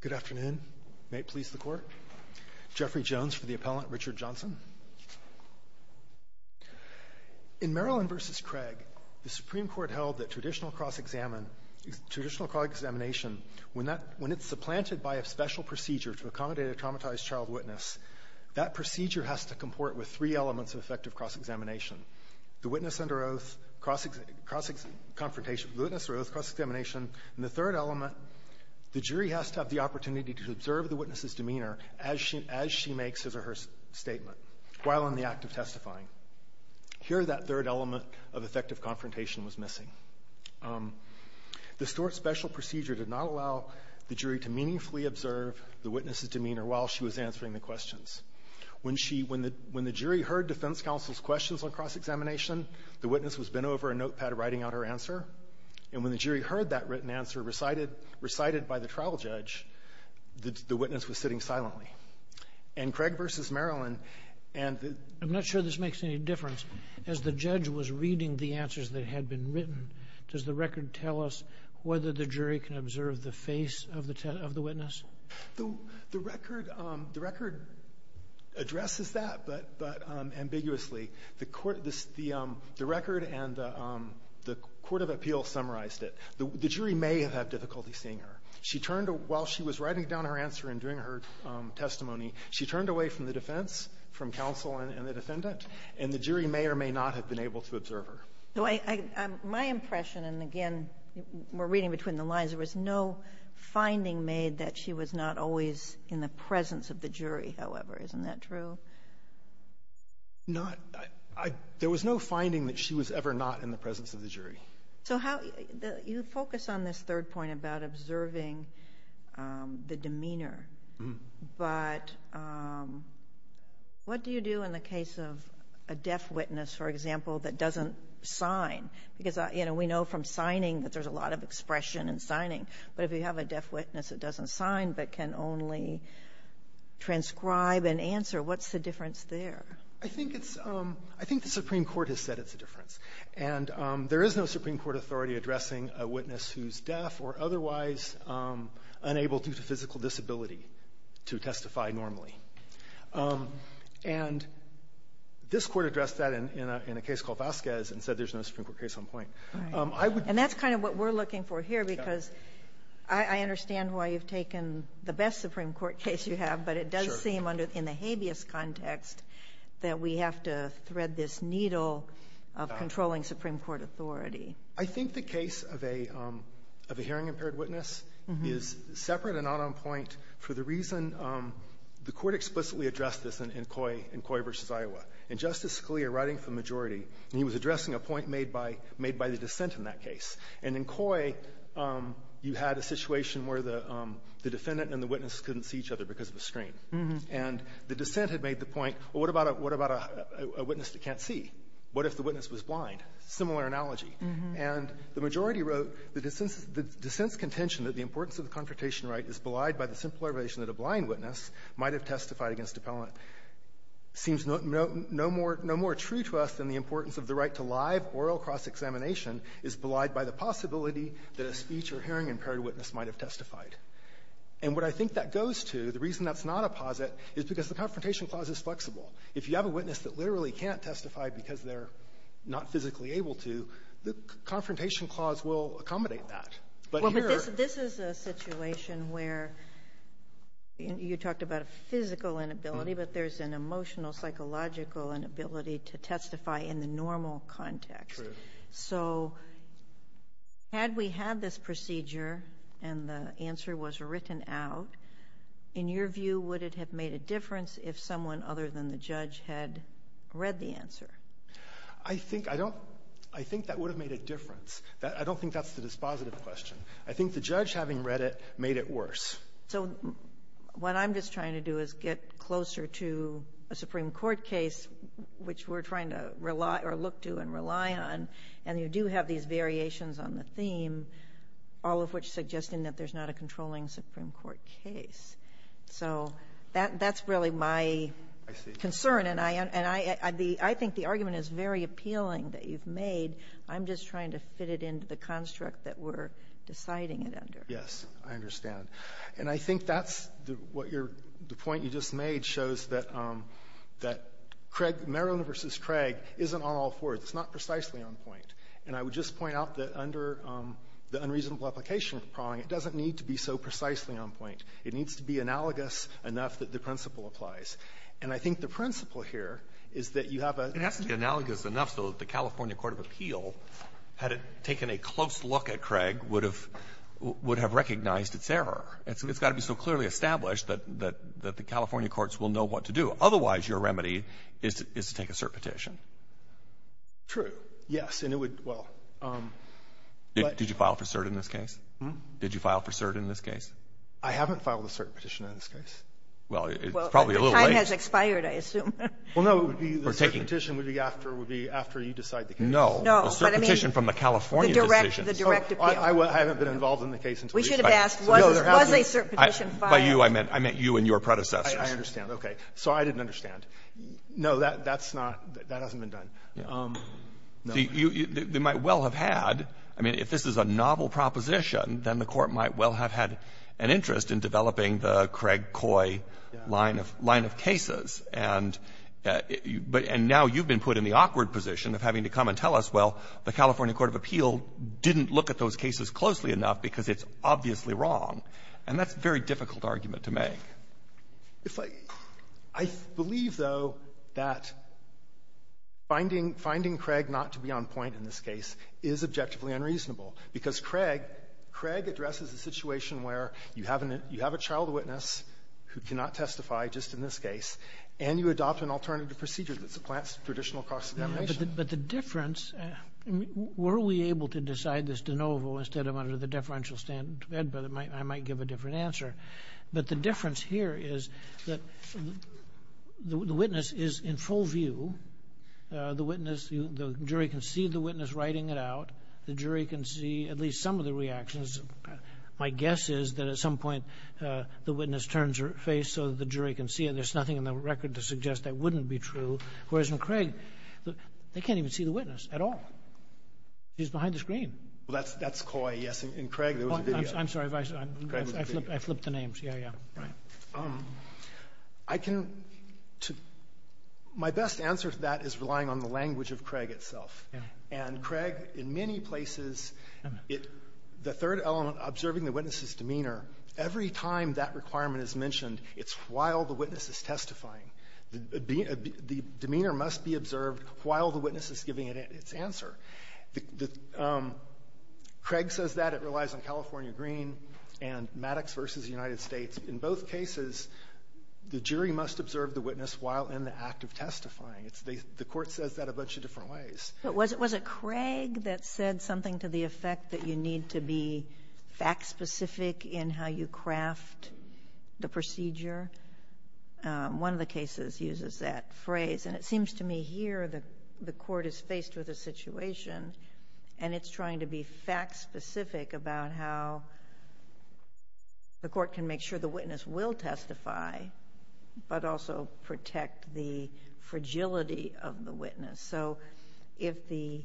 Good afternoon. May it please the Court. Jeffrey Jones for the appellant, Richard Johnson. In Maryland v. Craig, the Supreme Court held that traditional cross-examination, when it's supplanted by a special procedure to accommodate a traumatized child witness, that procedure has to comport with three elements of effective cross-examination. The witness under oath cross-examination. And the third element, the jury has to have the opportunity to observe the witness's demeanor as she makes his or her statement while in the act of testifying. Here, that third element of effective confrontation was missing. The special procedure did not allow the jury to meaningfully observe the witness's demeanor while she was answering the questions. When she – when the jury heard defense counsel's questions on cross-examination, the witness was bent over a notepad writing out her answer. And when the jury heard that written answer recited by the trial judge, the witness was sitting silently. And Craig v. Maryland, and the – I'm not sure this makes any difference. As the judge was reading the answers that had been written, does the record tell us whether the jury can observe the face of the witness? The record – the record addresses that, but ambiguously. The court – the record and the court of appeals summarized it. The jury may have had difficulty seeing her. She turned – while she was writing down her answer and doing her testimony, she turned away from the defense, from counsel and the defendant, and the jury may or may not have been able to observe her. My impression, and again, we're reading between the lines, there was no finding made that she was not always in the presence of the jury, however. Isn't that true? Not – I – there was no finding that she was ever not in the presence of the jury. So how – you focus on this third point about observing the demeanor. But what do you do in the case of a deaf witness, for example, that doesn't sign? Because, you know, we know from signing that there's a lot of expression in signing. But if you have a deaf witness that doesn't sign but can only transcribe and answer, what's the difference there? I think it's – I think the Supreme Court has said it's a difference. And there is no Supreme Court authority addressing a witness who's deaf or otherwise unable due to physical disability to testify normally. And this Court addressed that in a case called Vasquez and said there's no Supreme Court case on point. And that's kind of what we're looking for here, because I understand why you've taken the best Supreme Court case you have, but it does seem in the habeas context that we have to thread this needle of controlling Supreme Court authority. I think the case of a hearing-impaired witness is separate and not on point for the reason the Court explicitly addressed this in Coy versus Iowa. And Justice Scalia, writing for the majority, and he was addressing a point made by – made by the dissent in that case. And in Coy, you had a situation where the defendant and the witness couldn't see each other because of the screen. And the dissent had made the point, well, what about a witness that can't see? What if the witness was blind? Similar analogy. And the majority wrote the dissent's contention that the importance of the confrontation right is belied by the simple observation that a blind witness might have testified against a pellant seems no more – no more true to us than the importance of the right to live oral cross-examination is belied by the possibility that a speech- or hearing-impaired witness might have testified. And what I think that goes to, the reason that's not a posit, is because the Confrontation Clause is flexible. If you have a witness that literally can't testify because they're not physically able to, the Confrontation Clause will accommodate that. But here – Sotomayor, you had a situation where you talked about a physical inability, but there's an emotional, psychological inability to testify in the normal context. True. So had we had this procedure and the answer was written out, in your view, would it have made a difference if someone other than the judge had read the answer? I think – I don't – I think that would have made a difference. I don't think that's the dispositive question. I think the judge, having read it, made it worse. So what I'm just trying to do is get closer to a Supreme Court case, which we're trying to rely – or look to and rely on, and you do have these variations on the theme, all of which suggesting that there's not a controlling Supreme Court case. So that – that's really my concern. I see. And I – and I – I think the argument is very appealing that you've made. I'm just trying to fit it into the construct that we're deciding it under. Yes. I understand. And I think that's what your – the point you just made shows that – that Craig – Maryland v. Craig isn't on all fours. It's not precisely on point. And I would just point out that under the unreasonable application of the prong, it doesn't need to be so precisely on point. It needs to be analogous enough that the principle applies. And I think the principle here is that you have a – it has to be analogous enough so that the California court of appeal, had it taken a close look at Craig, would have – would have recognized its error. And so it's got to be so clearly established that – that the California courts will know what to do. Otherwise, your remedy is to take a cert petition. True. Yes. And it would – well, but – Did you file for cert in this case? Did you file for cert in this case? I haven't filed a cert petition in this case. Well, it's probably a little late. The time has expired, I assume. Well, no. It would be – the cert petition would be after – would be after you decide the case. No. No. The cert petition from the California decision. The direct – the direct appeal. I haven't been involved in the case until you decide. We should have asked, was this – was a cert petition filed? By you, I meant – I meant you and your predecessors. I understand. Okay. So I didn't understand. No, that – that's not – that hasn't been done. No. You – they might well have had – I mean, if this is a novel proposition, then the Court might well have had an interest in developing the Craig-Coy line of – line of cases. And now you've been put in the awkward position of having to come and tell us, well, the California court of appeal didn't look at those cases closely enough because it's obviously wrong. And that's a very difficult argument to make. If I – I believe, though, that finding – finding Craig not to be on point in this case is objectively unreasonable, because Craig – Craig addresses a situation where you have an – you have a child witness who cannot testify, just in this case, and you adopt an alternative procedure that supplants traditional cost of demonstration. But the difference – were we able to decide this de novo instead of under the deferential standard? I might give a different answer. But the difference here is that the witness is in full view. The witness – the jury can see the witness writing it out. The jury can see at least some of the reactions. My guess is that at some point, the witness turns her face so that the jury can see it. There's nothing in the record to suggest that wouldn't be true. Whereas in Craig, they can't even see the witness at all. She's behind the screen. Well, that's – that's Coy, yes. In Craig, there was a video. I'm sorry, Vice. I flipped the names. Yeah, yeah. Right. I can – my best answer to that is relying on the language of Craig itself. And Craig, in many places, the third element, observing the witness's demeanor, every time that requirement is mentioned, it's while the witness is testifying. The demeanor must be observed while the witness is giving its answer. Craig says that. It relies on California Green and Maddox v. United States. In both cases, the jury must observe the witness while in the act of testifying. The court says that a bunch of different ways. But was it Craig that said something to the effect that you need to be fact-specific in how you craft the procedure? One of the cases uses that phrase. And it seems to me here the court is faced with a situation, and it's trying to be fact-specific about how the court can make sure the witness will testify but also protect the fragility of the witness. So if the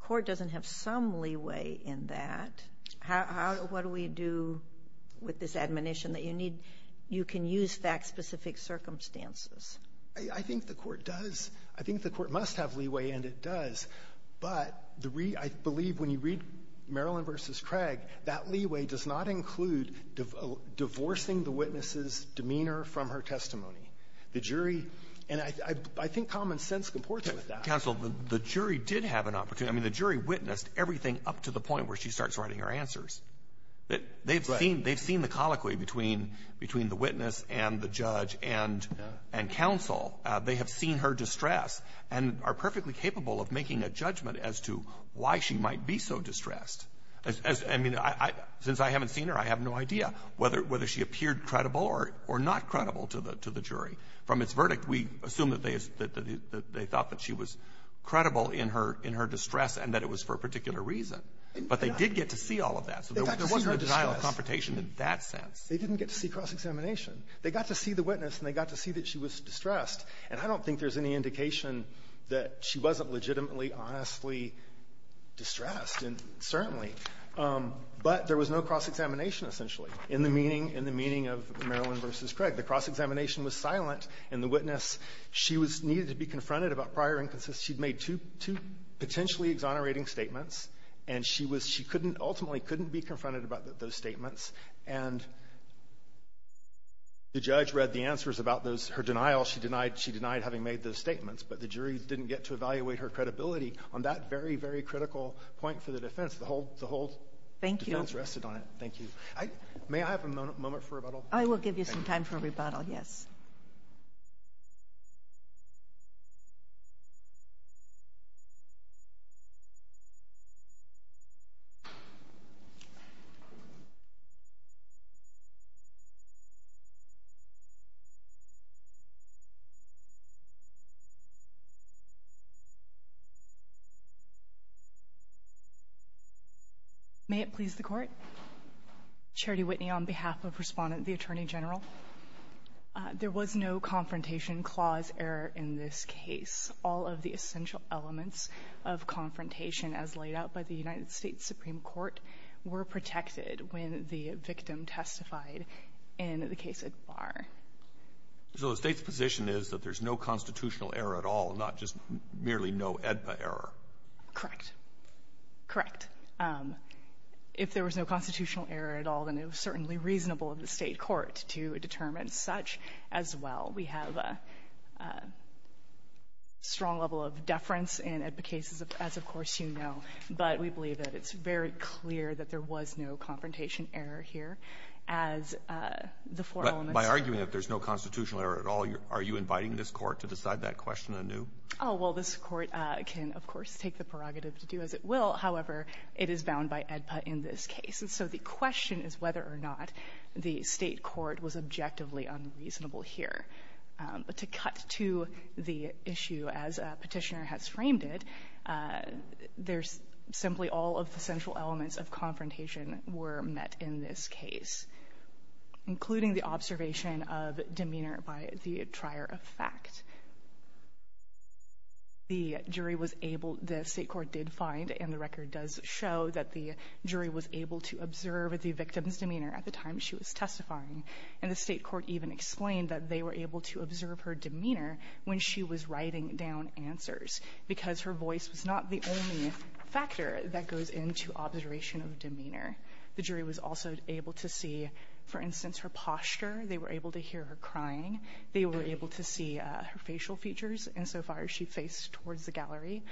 court doesn't have some leeway in that, what do we do with this admonition that you need – you can use fact-specific circumstances? I think the court does. I think the court must have leeway, and it does. But the – I believe when you read Maryland v. Craig, that leeway does not include divorcing the witness's demeanor from her testimony. The jury – and I think common sense comports with that. Counsel, the jury did have an opportunity. I mean, the jury witnessed everything up to the point where she starts writing her answers. They've seen the colloquy between the witness and the judge and counsel. They have seen her distress and are perfectly capable of making a judgment as to why she might be so distressed. I mean, since I haven't seen her, I have no idea whether she appeared credible or not credible to the jury. From its verdict, we assume that they thought that she was credible in her distress and that it was for a particular reason. But they did get to see all of that. So there wasn't a denial of confrontation in that sense. They didn't get to see cross-examination. They got to see the witness, and they got to see that she was distressed. And I don't think there's any indication that she wasn't legitimately, honestly distressed, and certainly. But there was no cross-examination, essentially, in the meeting – in the meeting of Maryland v. Craig. The cross-examination was silent, and the witness, she was – needed to be confronted about prior instances. She'd made two – two potentially exonerating statements, and she was – she couldn't – ultimately couldn't be confronted about those statements. And the judge read the answers about those – her denial. She denied – she denied having made those statements. But the jury didn't get to evaluate her credibility on that very, very critical point for the defense. The whole – the whole defense rested on it. Thank you. May I have a moment for rebuttal? I will give you some time for rebuttal, yes. Please. May it please the Court. Charity Whitney on behalf of Respondent – the Attorney General. There was no Confrontation Clause error in this case. All of the essential elements of confrontation as laid out by the United States Supreme Court were protected when the victim testified in the case of Barr. So the State's position is that there's no constitutional error at all, not just merely no AEDPA error? Correct. Correct. If there was no constitutional error at all, then it was certainly reasonable of the State court to determine such as well. We have a strong level of deference in AEDPA cases, as, of course, you know. But we believe that it's very clear that there was no confrontation error here, as the four elements are. But by arguing that there's no constitutional error at all, are you inviting this Court to decide that question anew? Oh, well, this Court can, of course, take the prerogative to do as it will. However, it is bound by AEDPA in this case. And so the question is whether or not the State court was objectively unreasonable here. But to cut to the issue as Petitioner has framed it, there's simply all of the central elements of confrontation were met in this case, including the observation of demeanor by the trier of fact. The jury was able to the State court did find, and the record does show, that the jury was able to observe the victim's demeanor at the time she was testifying. And the State court even explained that they were able to observe her demeanor when she was writing down answers because her voice was not the only factor that goes into observation of demeanor. The jury was also able to see, for instance, her posture. They were able to hear her crying. They were able to see her facial features insofar as she faced towards the gallery.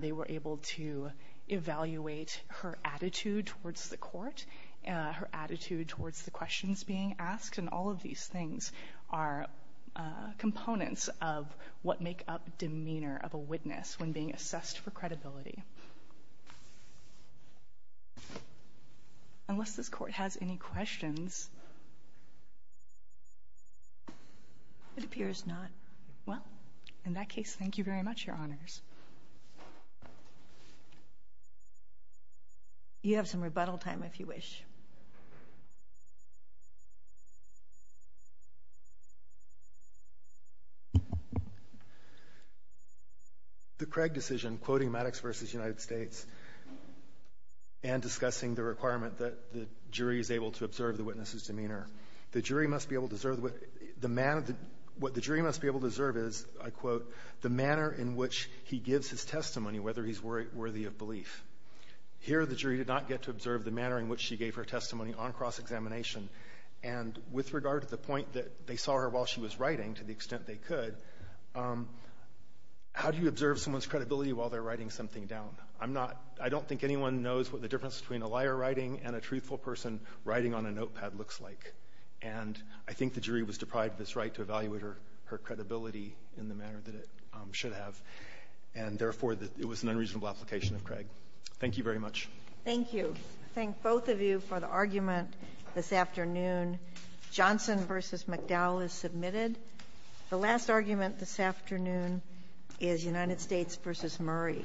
They were able to evaluate her attitude towards the court, her attitude towards the questions being asked. And all of these things are components of what make up demeanor of a witness when being assessed for credibility. Unless this Court has any questions. Kagan. It appears not. Well, in that case, thank you very much, Your Honors. You have some rebuttal time if you wish. The Craig decision, quoting Maddox v. United States, and discussing the requirement that the jury is able to observe the witness's demeanor, the jury must be able to observe what the jury must be able to observe is, I quote, the manner in which he or she gives his testimony, whether he's worthy of belief. Here, the jury did not get to observe the manner in which she gave her testimony on cross-examination. And with regard to the point that they saw her while she was writing, to the extent they could, how do you observe someone's credibility while they're writing something down? I'm not — I don't think anyone knows what the difference between a liar writing and a truthful person writing on a notepad looks like. And I think the jury was deprived of its right to evaluate her credibility in the manner that it should have, and therefore, it was an unreasonable application of Craig. Thank you very much. Thank you. I thank both of you for the argument this afternoon. Johnson v. McDowell is submitted. The last argument this afternoon is United States v. Murray.